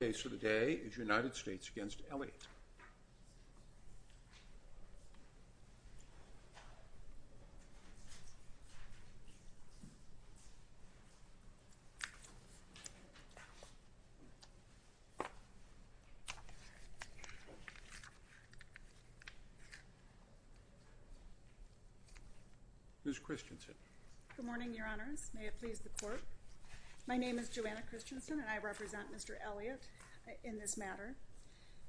The case of the day is United States v. Elliott. Ms. Christensen. Good morning, Your Honors. May it please the Court. My name is Joanna Christensen, and I represent Mr. Elliott in this matter.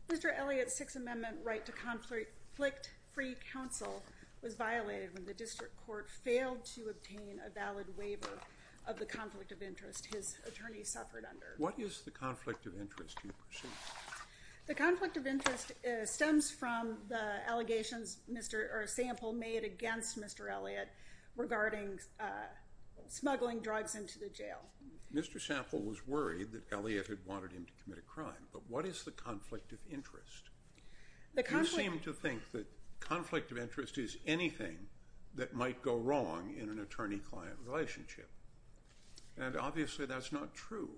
Mr. Elliott's Sixth Amendment right to conflict-free counsel was violated when the District Court failed to obtain a valid waiver of the conflict of interest his attorney suffered under. What is the conflict of interest, do you presume? The conflict of interest stems from the allegations sample made against Mr. Elliott regarding smuggling drugs into the jail. Mr. Sample was worried that Elliott had wanted him to commit a crime, but what is the conflict of interest? You seem to think that conflict of interest is anything that might go wrong in an attorney-client relationship, and obviously that's not true.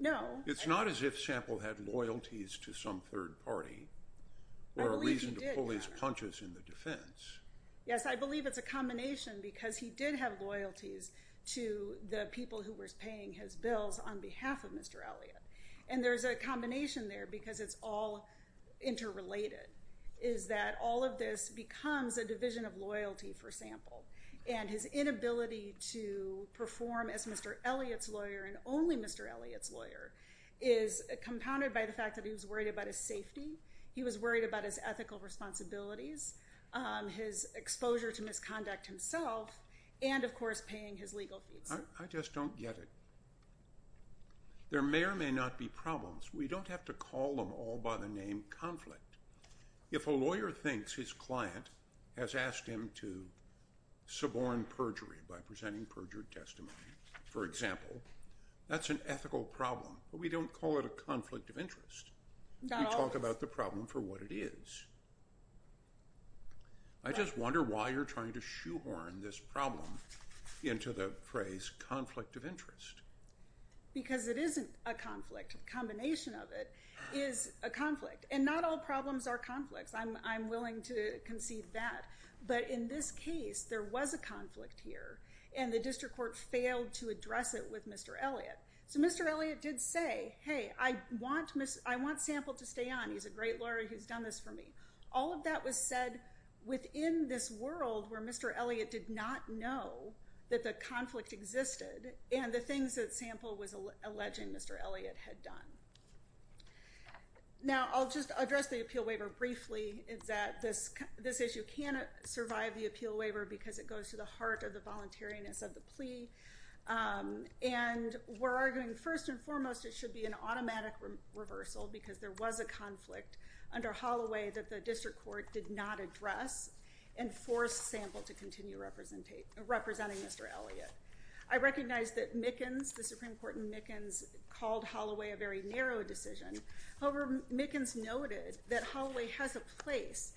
No. It's not as if Sample had loyalties to some third party or a reason to pull his punches in the defense. Yes, I believe it's a combination because he did have loyalties to the people who were paying his bills on behalf of Mr. Elliott, and there's a combination there because it's all interrelated, is that all of this becomes a division of loyalty for Sample, and his inability to perform as Mr. Elliott's lawyer and only Mr. Elliott's lawyer is compounded by the fact that he was worried about his safety, he was worried about his ethical responsibilities, his exposure to misconduct himself, and of course paying his legal fees. I just don't get it. There may or may not be problems. We don't have to call them all by the name conflict. If a lawyer thinks his client has asked him to suborn perjury by presenting perjured testimony, for example, that's an ethical problem, but we don't call it a conflict of interest. We talk about the problem for what it is. I just wonder why you're trying to shoehorn this problem into the phrase conflict of interest. Because it isn't a conflict. A combination of it is a conflict, and not all problems are conflicts. I'm willing to concede that, but in this case, there was a conflict here, and the district court failed to address it with Mr. Elliott, so Mr. Elliott did say, hey, I want Sample to stay on. He's a great lawyer. He's done this for me. All of that was said within this world where Mr. Elliott did not know that the conflict existed and the things that Sample was alleging Mr. Elliott had done. Now, I'll just address the appeal waiver briefly. This issue can't survive the appeal waiver because it goes to the heart of the voluntariness of the plea, and we're arguing first and foremost it should be an automatic reversal because there was a conflict under Holloway that the district court did not address and forced Sample to continue representing Mr. Elliott. I recognize that Mickens, the Supreme Court in Mickens, called Holloway a very narrow decision. However, Mickens noted that Holloway has a place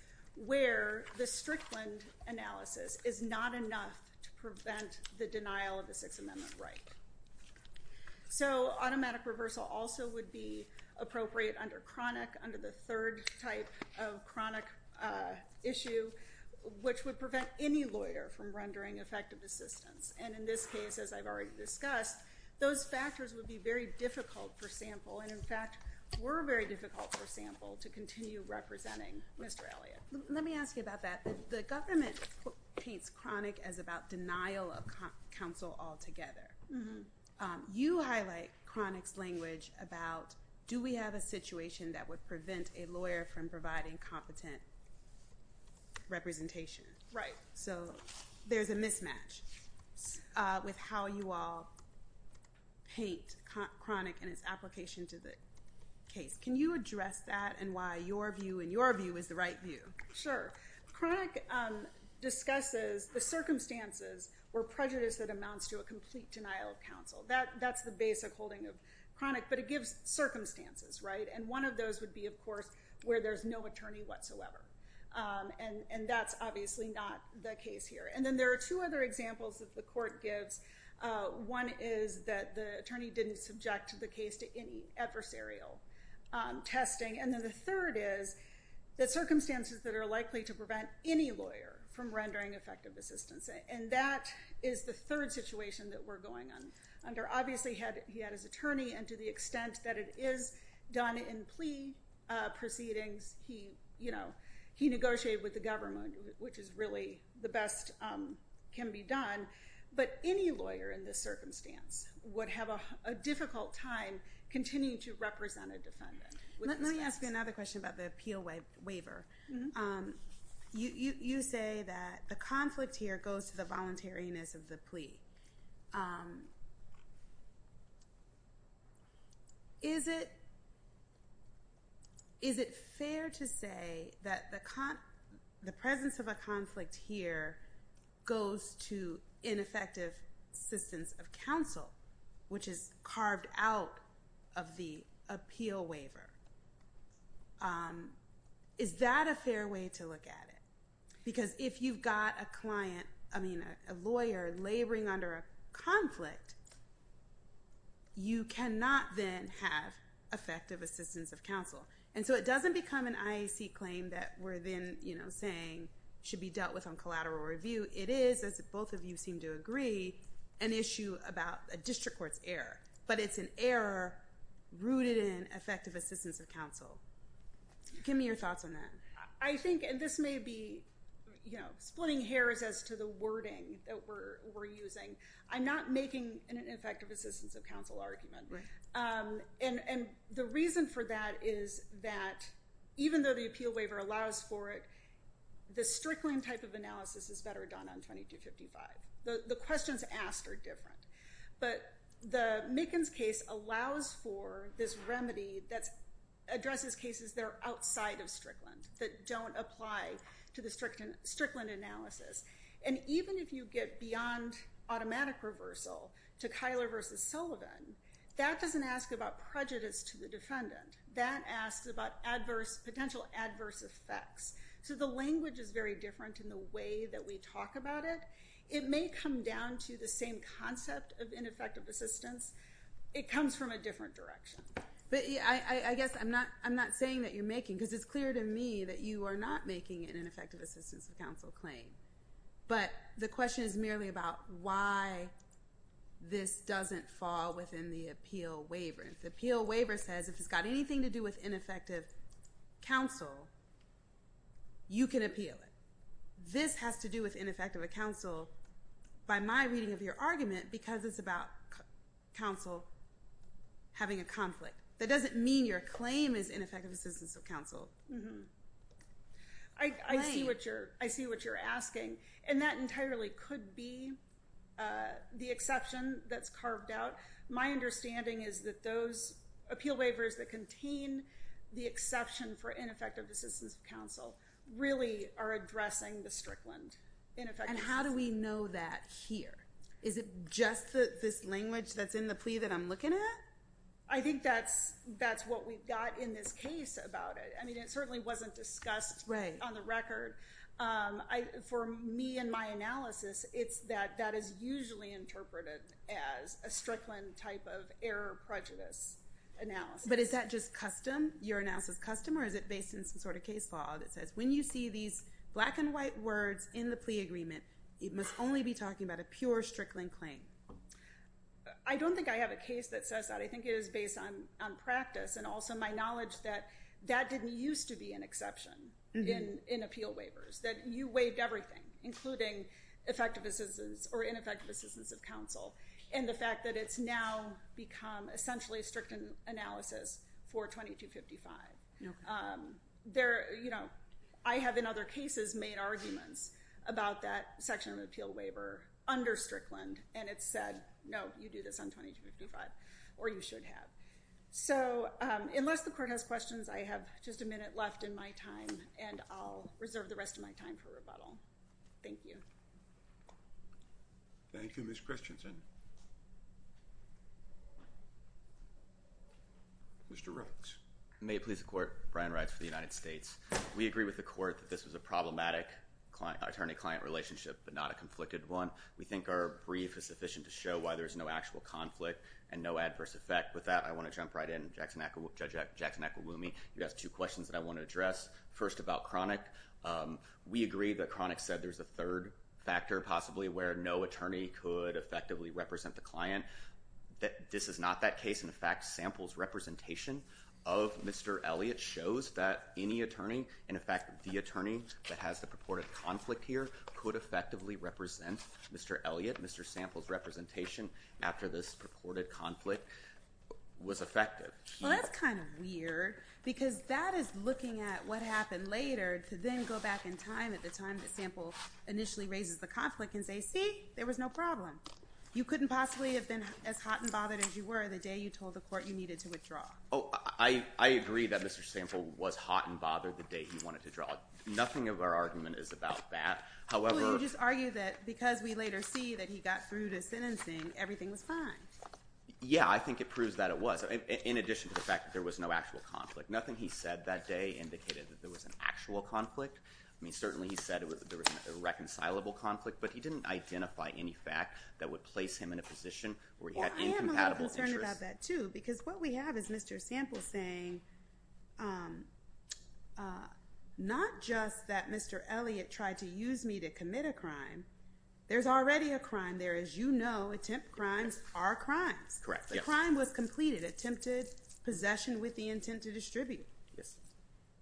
where the Strickland analysis is not enough to prevent the denial of the Sixth Amendment right. So automatic reversal also would be appropriate under chronic, under the third type of chronic issue, which would prevent any lawyer from rendering effective assistance. And in this case, as I've already discussed, those factors would be very difficult for Sample, and in fact were very difficult for Sample to continue representing Mr. Elliott. Let me ask you about that. The government paints chronic as about denial of counsel altogether. You highlight chronic's language about do we have a situation that would prevent a lawyer from providing competent representation. So there's a mismatch with how you all paint chronic and its application to the case. Can you address that and why your view and your view is the right view? Sure. Chronic discusses the circumstances or prejudice that amounts to a complete denial of counsel. That's the basic holding of chronic, but it gives circumstances, right? And one of those would be, of course, where there's no attorney whatsoever. And that's obviously not the case here. And then there are two other examples that the court gives. One is that the attorney didn't subject the case to any adversarial testing. And then the third is that circumstances that are likely to prevent any lawyer from rendering effective assistance. And that is the third situation that we're going under. Obviously, he had his attorney, and to the extent that it is done in plea proceedings, he negotiated with the government, which is really the best can be done. But any lawyer in this circumstance would have a difficult time continuing to represent a defendant. Let me ask you another question about the appeal waiver. You say that the conflict here goes to the voluntariness of the plea. Is it fair to say that the presence of a conflict here goes to ineffective assistance of counsel, which is carved out of the appeal waiver? Is that a fair way to look at it? Because if you've got a client, I mean, a lawyer laboring under a conflict, you cannot then have effective assistance of counsel. And so it doesn't become an IAC claim that we're then saying should be dealt with on collateral review. It is, as both of you seem to agree, an issue about a district court's error. But it's an error rooted in effective assistance of counsel. Give me your thoughts on that. I think, and this may be splitting hairs as to the wording that we're using, I'm not making an effective assistance of counsel argument. And the reason for that is that even though the appeal waiver allows for it, the Strickland type of analysis is better done on 2255. The questions asked are different. But the Mickens case allows for this remedy that addresses cases that are outside of Strickland, that don't apply to the Strickland analysis. And even if you get beyond automatic reversal to Kyler versus Sullivan, that doesn't ask about prejudice to the defendant. That asks about potential adverse effects. So the language is very different in the way that we talk about it. It may come down to the same concept of ineffective assistance. It comes from a different direction. But I guess I'm not saying that you're making, because it's clear to me that you are not making an ineffective assistance of counsel claim. But the question is merely about why this doesn't fall within the appeal waiver. If the appeal waiver says if it's got anything to do with ineffective counsel, you can appeal it. This has to do with ineffective counsel by my reading of your argument, because it's about counsel having a conflict. That doesn't mean your claim is ineffective assistance of counsel. I see what you're asking. And that entirely could be the exception that's carved out. My understanding is that those appeal waivers that contain the exception for ineffective assistance of counsel really are addressing the Strickland ineffectiveness. And how do we know that here? Is it just this language that's in the plea that I'm looking at? I think that's what we've got in this case about it. I mean, it certainly wasn't discussed on the record. For me and my analysis, it's that that is usually interpreted as a Strickland type of error prejudice analysis. But is that just custom? Your analysis is custom? Or is it based on some sort of case law that says when you see these black and white words in the plea agreement, it must only be talking about a pure Strickland claim? I don't think I have a case that says that. I think it is based on practice and also my knowledge that that didn't used to be an exception in appeal waivers, that you waived everything, including effective assistance or ineffective assistance of counsel, and the fact that it's now become essentially a Strickland analysis for 2255. I have, in other cases, made arguments about that section of the appeal waiver under Strickland, and it said, no, you do this on 2255, or you should have. So unless the court has questions, I have just a minute left in my time, and I'll reserve the rest of my time for rebuttal. Thank you. Thank you, Ms. Christensen. Mr. Reitz. May it please the court, Brian Reitz for the United States. We agree with the court that this was a problematic attorney-client relationship, but not a conflicted one. We think our brief is sufficient to show why there is no actual conflict and no adverse effect. With that, I want to jump right in. Judge Jackson-Equilumi, you asked two questions that I want to address. First, about Cronick. We agree that Cronick said there's a third factor, possibly, where no attorney could effectively represent the client. This is not that case. In fact, samples representation of Mr. Elliott shows that any attorney, and in fact the attorney that has the purported conflict here, could effectively represent Mr. Elliott. Mr. Sample's representation after this purported conflict was effective. Well, that's kind of weird, because that is looking at what happened later to then go back in time, at the time that Sample initially raises the conflict, and say, see, there was no problem. You couldn't possibly have been as hot and bothered as you were the day you told the court you needed to withdraw. Oh, I agree that Mr. Sample was hot and bothered the day he wanted to withdraw. Nothing of our argument is about that. Well, you just argue that because we later see that he got through to sentencing, everything was fine. Yeah, I think it proves that it was. In addition to the fact that there was no actual conflict. Nothing he said that day indicated that there was an actual conflict. I mean, certainly he said there was a reconcilable conflict, but he didn't identify any fact that would place him in a position where he had incompatible interests. Well, I am a little concerned about that, too, because what we have is Mr. Sample saying, not just that Mr. Elliott tried to use me to commit a crime. There's already a crime there. As you know, attempt crimes are crimes. Correct. The crime was completed, attempted possession with the intent to distribute. Yes.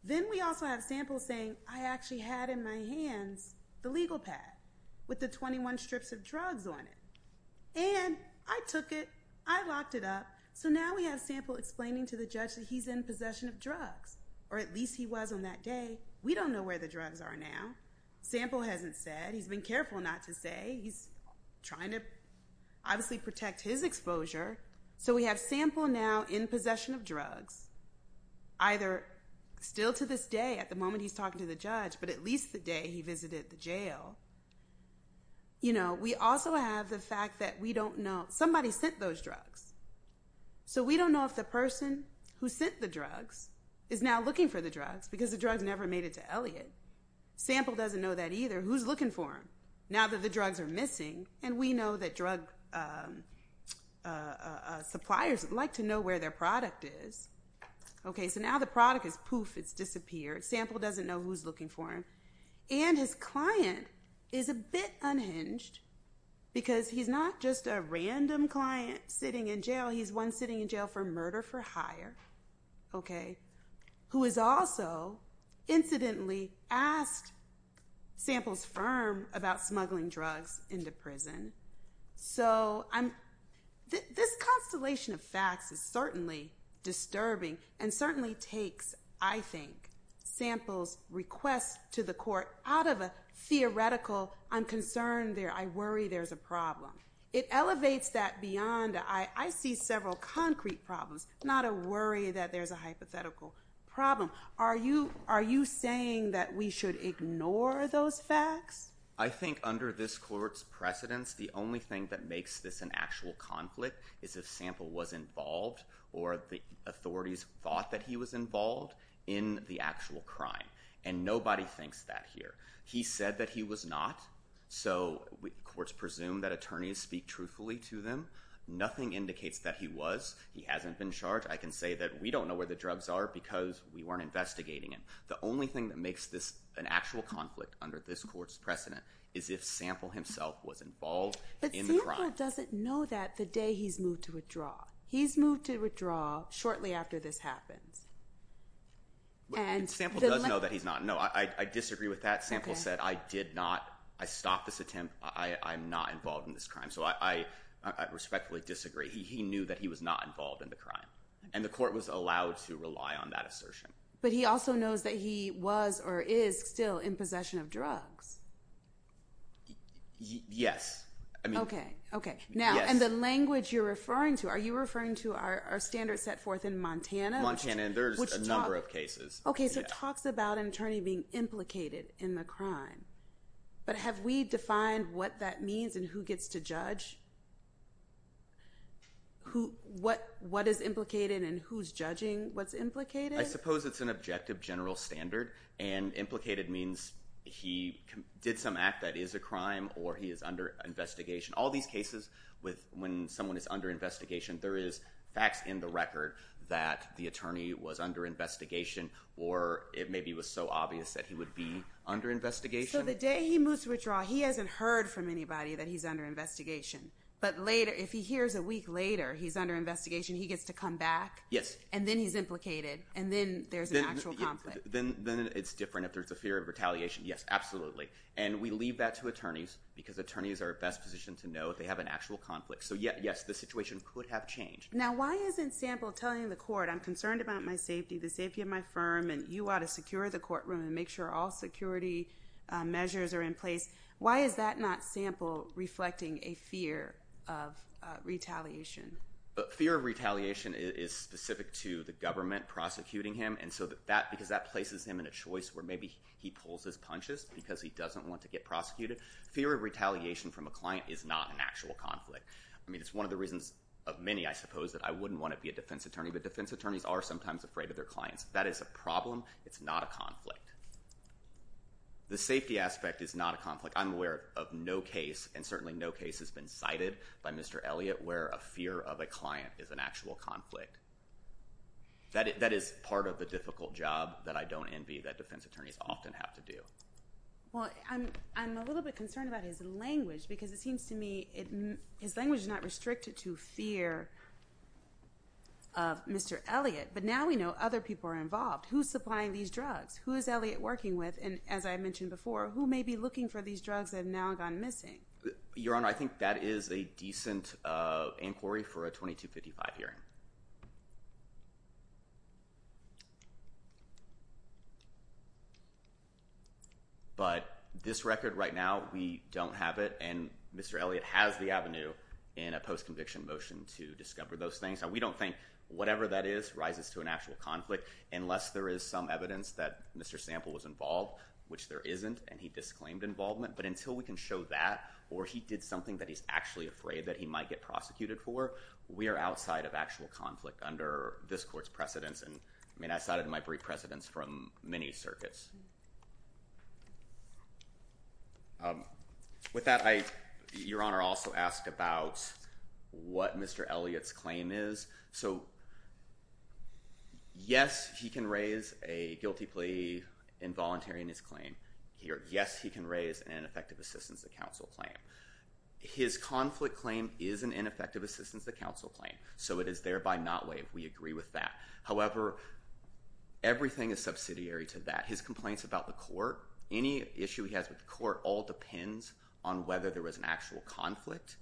Then we also have Sample saying, I actually had in my hands the legal pad with the 21 strips of drugs on it. And I took it. I locked it up. So now we have Sample explaining to the judge that he's in possession of drugs, or at least he was on that day. We don't know where the drugs are now. Sample hasn't said. He's been careful not to say. He's trying to obviously protect his exposure. So we have Sample now in possession of drugs, either still to this day at the moment he's talking to the judge, but at least the day he visited the jail. You know, we also have the fact that we don't know. Somebody sent those drugs. So we don't know if the person who sent the drugs is now looking for the drugs, because the drugs never made it to Elliott. Sample doesn't know that either. Who's looking for them? Now that the drugs are missing, and we know that drug suppliers like to know where their product is. Okay, so now the product is poof. It's disappeared. Sample doesn't know who's looking for him. And his client is a bit unhinged because he's not just a random client sitting in jail. He's one sitting in jail for murder for hire, okay, who has also incidentally asked Sample's firm about smuggling drugs into prison. So this constellation of facts is certainly disturbing and certainly takes, I think, Sample's request to the court out of a theoretical, I'm concerned there, I worry there's a problem. It elevates that beyond, I see several concrete problems, not a worry that there's a hypothetical problem. Are you saying that we should ignore those facts? I think under this court's precedence, the only thing that makes this an actual conflict is if Sample was involved or the authorities thought that he was involved in the actual crime. And nobody thinks that here. He said that he was not, so courts presume that attorneys speak truthfully to them. Nothing indicates that he was. He hasn't been charged. I can say that we don't know where the drugs are because we weren't investigating it. The only thing that makes this an actual conflict under this court's precedent is if Sample himself was involved in the crime. But Sample doesn't know that the day he's moved to withdraw. He's moved to withdraw shortly after this happens. Sample does know that he's not. No, I disagree with that. Sample said, I did not, I stopped this attempt. I'm not involved in this crime. So I respectfully disagree. He knew that he was not involved in the crime, and the court was allowed to rely on that assertion. But he also knows that he was or is still in possession of drugs. Yes. Okay, okay. Now, and the language you're referring to, are you referring to our standards set forth in Montana? Montana, and there's a number of cases. Okay, so it talks about an attorney being implicated in the crime. But have we defined what that means and who gets to judge? What is implicated and who's judging what's implicated? I suppose it's an objective general standard, and implicated means he did some act that is a crime or he is under investigation. All these cases, when someone is under investigation, there is facts in the record that the attorney was under investigation or it maybe was so obvious that he would be under investigation. So the day he moves to withdraw, he hasn't heard from anybody that he's under investigation. But later, if he hears a week later he's under investigation, he gets to come back? Yes. And then he's implicated, and then there's an actual conflict. Then it's different if there's a fear of retaliation. Yes, absolutely. And we leave that to attorneys because attorneys are best positioned to know if they have an actual conflict. So yes, the situation could have changed. Now, why isn't sample telling the court, I'm concerned about my safety, the safety of my firm, and you ought to secure the courtroom and make sure all security measures are in place? Why is that not sample reflecting a fear of retaliation? Fear of retaliation is specific to the government prosecuting him, because that places him in a choice where maybe he pulls his punches because he doesn't want to get prosecuted. Fear of retaliation from a client is not an actual conflict. I mean, it's one of the reasons of many, I suppose, that I wouldn't want to be a defense attorney, but defense attorneys are sometimes afraid of their clients. That is a problem. It's not a conflict. The safety aspect is not a conflict. I'm aware of no case, and certainly no case has been cited by Mr. Elliott, where a fear of a client is an actual conflict. That is part of the difficult job that I don't envy that defense attorneys often have to do. Well, I'm a little bit concerned about his language because it seems to me his language is not restricted to fear of Mr. Elliott, but now we know other people are involved. Who's supplying these drugs? Who is Elliott working with? And as I mentioned before, who may be looking for these drugs that have now gone missing? Your Honor, I think that is a decent inquiry for a 2255 hearing. But this record right now, we don't have it, and Mr. Elliott has the avenue in a post-conviction motion to discover those things. We don't think whatever that is rises to an actual conflict unless there is some evidence that Mr. Sample was involved, which there isn't, and he disclaimed involvement, but until we can show that or he did something that he's actually afraid that he might get prosecuted for, we are outside of actual conflict under this court's precedence. I mean, I cited my brief precedence from many circuits. With that, Your Honor, I also asked about what Mr. Elliott's claim is. So yes, he can raise a guilty plea involuntary in his claim. Yes, he can raise an ineffective assistance to counsel claim. His conflict claim is an ineffective assistance to counsel claim, so it is thereby not waived. We agree with that. However, everything is subsidiary to that. His complaints about the court, any issue he has with the court, all depends on whether there was an actual conflict,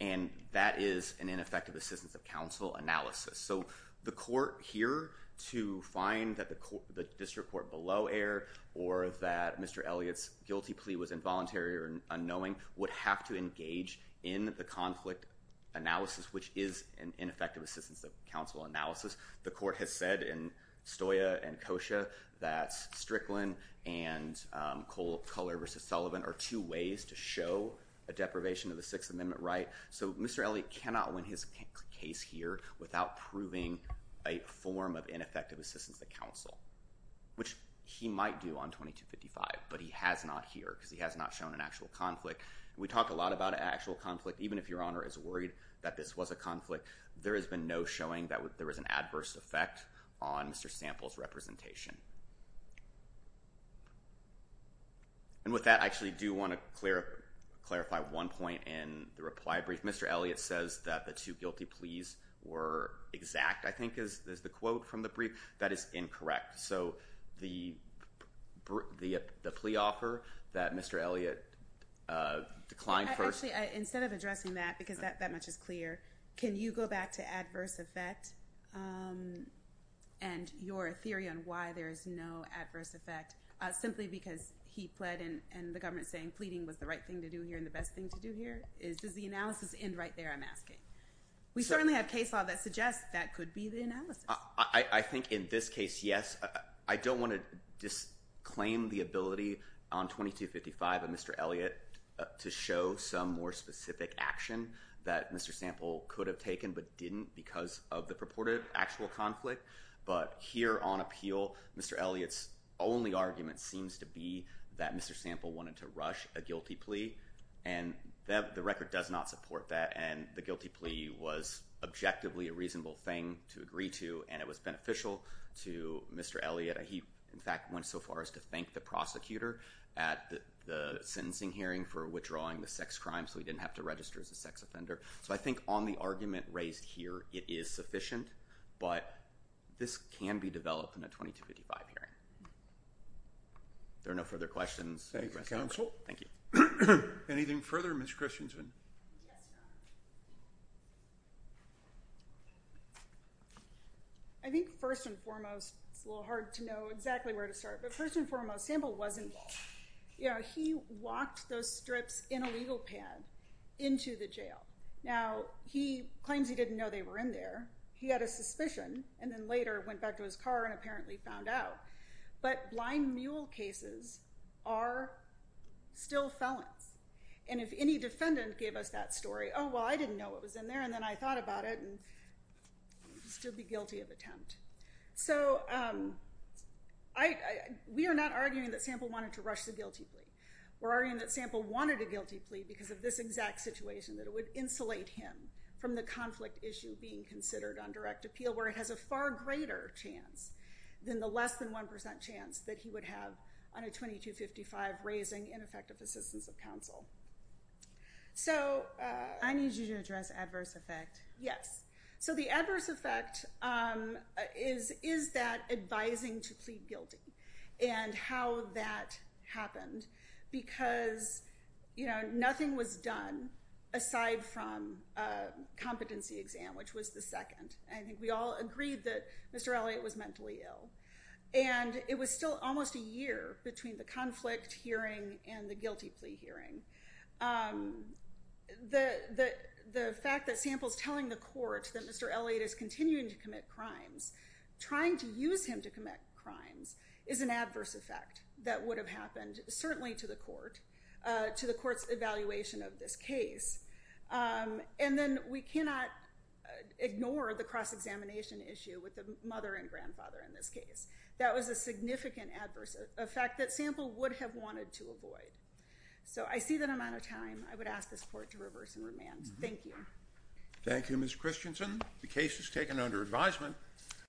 and that is an ineffective assistance of counsel analysis. So the court here to find that the district court below error or that Mr. Elliott's guilty plea was involuntary or unknowing would have to engage in the conflict analysis, which is an ineffective assistance of counsel analysis. The court has said in Stoya and Kosha that Strickland and Cole Culler v. Sullivan are two ways to show a deprivation of the Sixth Amendment right. So Mr. Elliott cannot win his case here without proving a form of ineffective assistance to counsel, which he might do on 2255, but he has not here because he has not shown an actual conflict. We talk a lot about an actual conflict. Even if Your Honor is worried that this was a conflict, there has been no showing that there was an adverse effect on Mr. Sample's representation. And with that, I actually do want to clarify one point in the reply brief. Mr. Elliott says that the two guilty pleas were exact, I think is the quote from the brief. That is incorrect. Correct. So the plea offer that Mr. Elliott declined first. Actually, instead of addressing that because that much is clear, can you go back to adverse effect and your theory on why there is no adverse effect simply because he pled and the government is saying pleading was the right thing to do here and the best thing to do here? Does the analysis end right there, I'm asking? We certainly have case law that suggests that could be the analysis. I think in this case, yes. I don't want to disclaim the ability on 2255 of Mr. Elliott to show some more specific action that Mr. Sample could have taken but didn't because of the purported actual conflict. But here on appeal, Mr. Elliott's only argument seems to be that Mr. Sample wanted to rush a guilty plea, and the record does not support that, and the guilty plea was objectively a reasonable thing to agree to, and it was beneficial to Mr. Elliott. He, in fact, went so far as to thank the prosecutor at the sentencing hearing for withdrawing the sex crime so he didn't have to register as a sex offender. So I think on the argument raised here, it is sufficient, but this can be developed in a 2255 hearing. If there are no further questions. Thank you, counsel. Thank you. Anything further, Ms. Christiansen? Yes, Your Honor. I think first and foremost, it's a little hard to know exactly where to start, but first and foremost, Sample was involved. He walked those strips in a legal pad into the jail. Now, he claims he didn't know they were in there. He had a suspicion and then later went back to his car and apparently found out. But blind mule cases are still felons, and if any defendant gave us that story, oh, well, I didn't know it was in there and then I thought about it and I'd still be guilty of attempt. So we are not arguing that Sample wanted to rush the guilty plea. We're arguing that Sample wanted a guilty plea because of this exact situation, that it would insulate him from the conflict issue being considered on direct appeal where it has a far greater chance than the less than 1% chance that he would have on a 2255 raising ineffective assistance of counsel. I need you to address adverse effect. Yes. So the adverse effect is that advising to plead guilty and how that happened because nothing was done aside from a competency exam, which was the second. I think we all agreed that Mr. Elliott was mentally ill, and it was still almost a year between the conflict hearing and the guilty plea hearing. The fact that Sample's telling the court that Mr. Elliott is continuing to commit crimes, trying to use him to commit crimes, is an adverse effect that would have happened certainly to the court, to the court's evaluation of this case. And then we cannot ignore the cross-examination issue with the mother and grandfather in this case. That was a significant adverse effect that Sample would have wanted to avoid. So I see that I'm out of time. I would ask this court to reverse and remand. Thank you. Thank you, Ms. Christensen. The case is taken under advisement.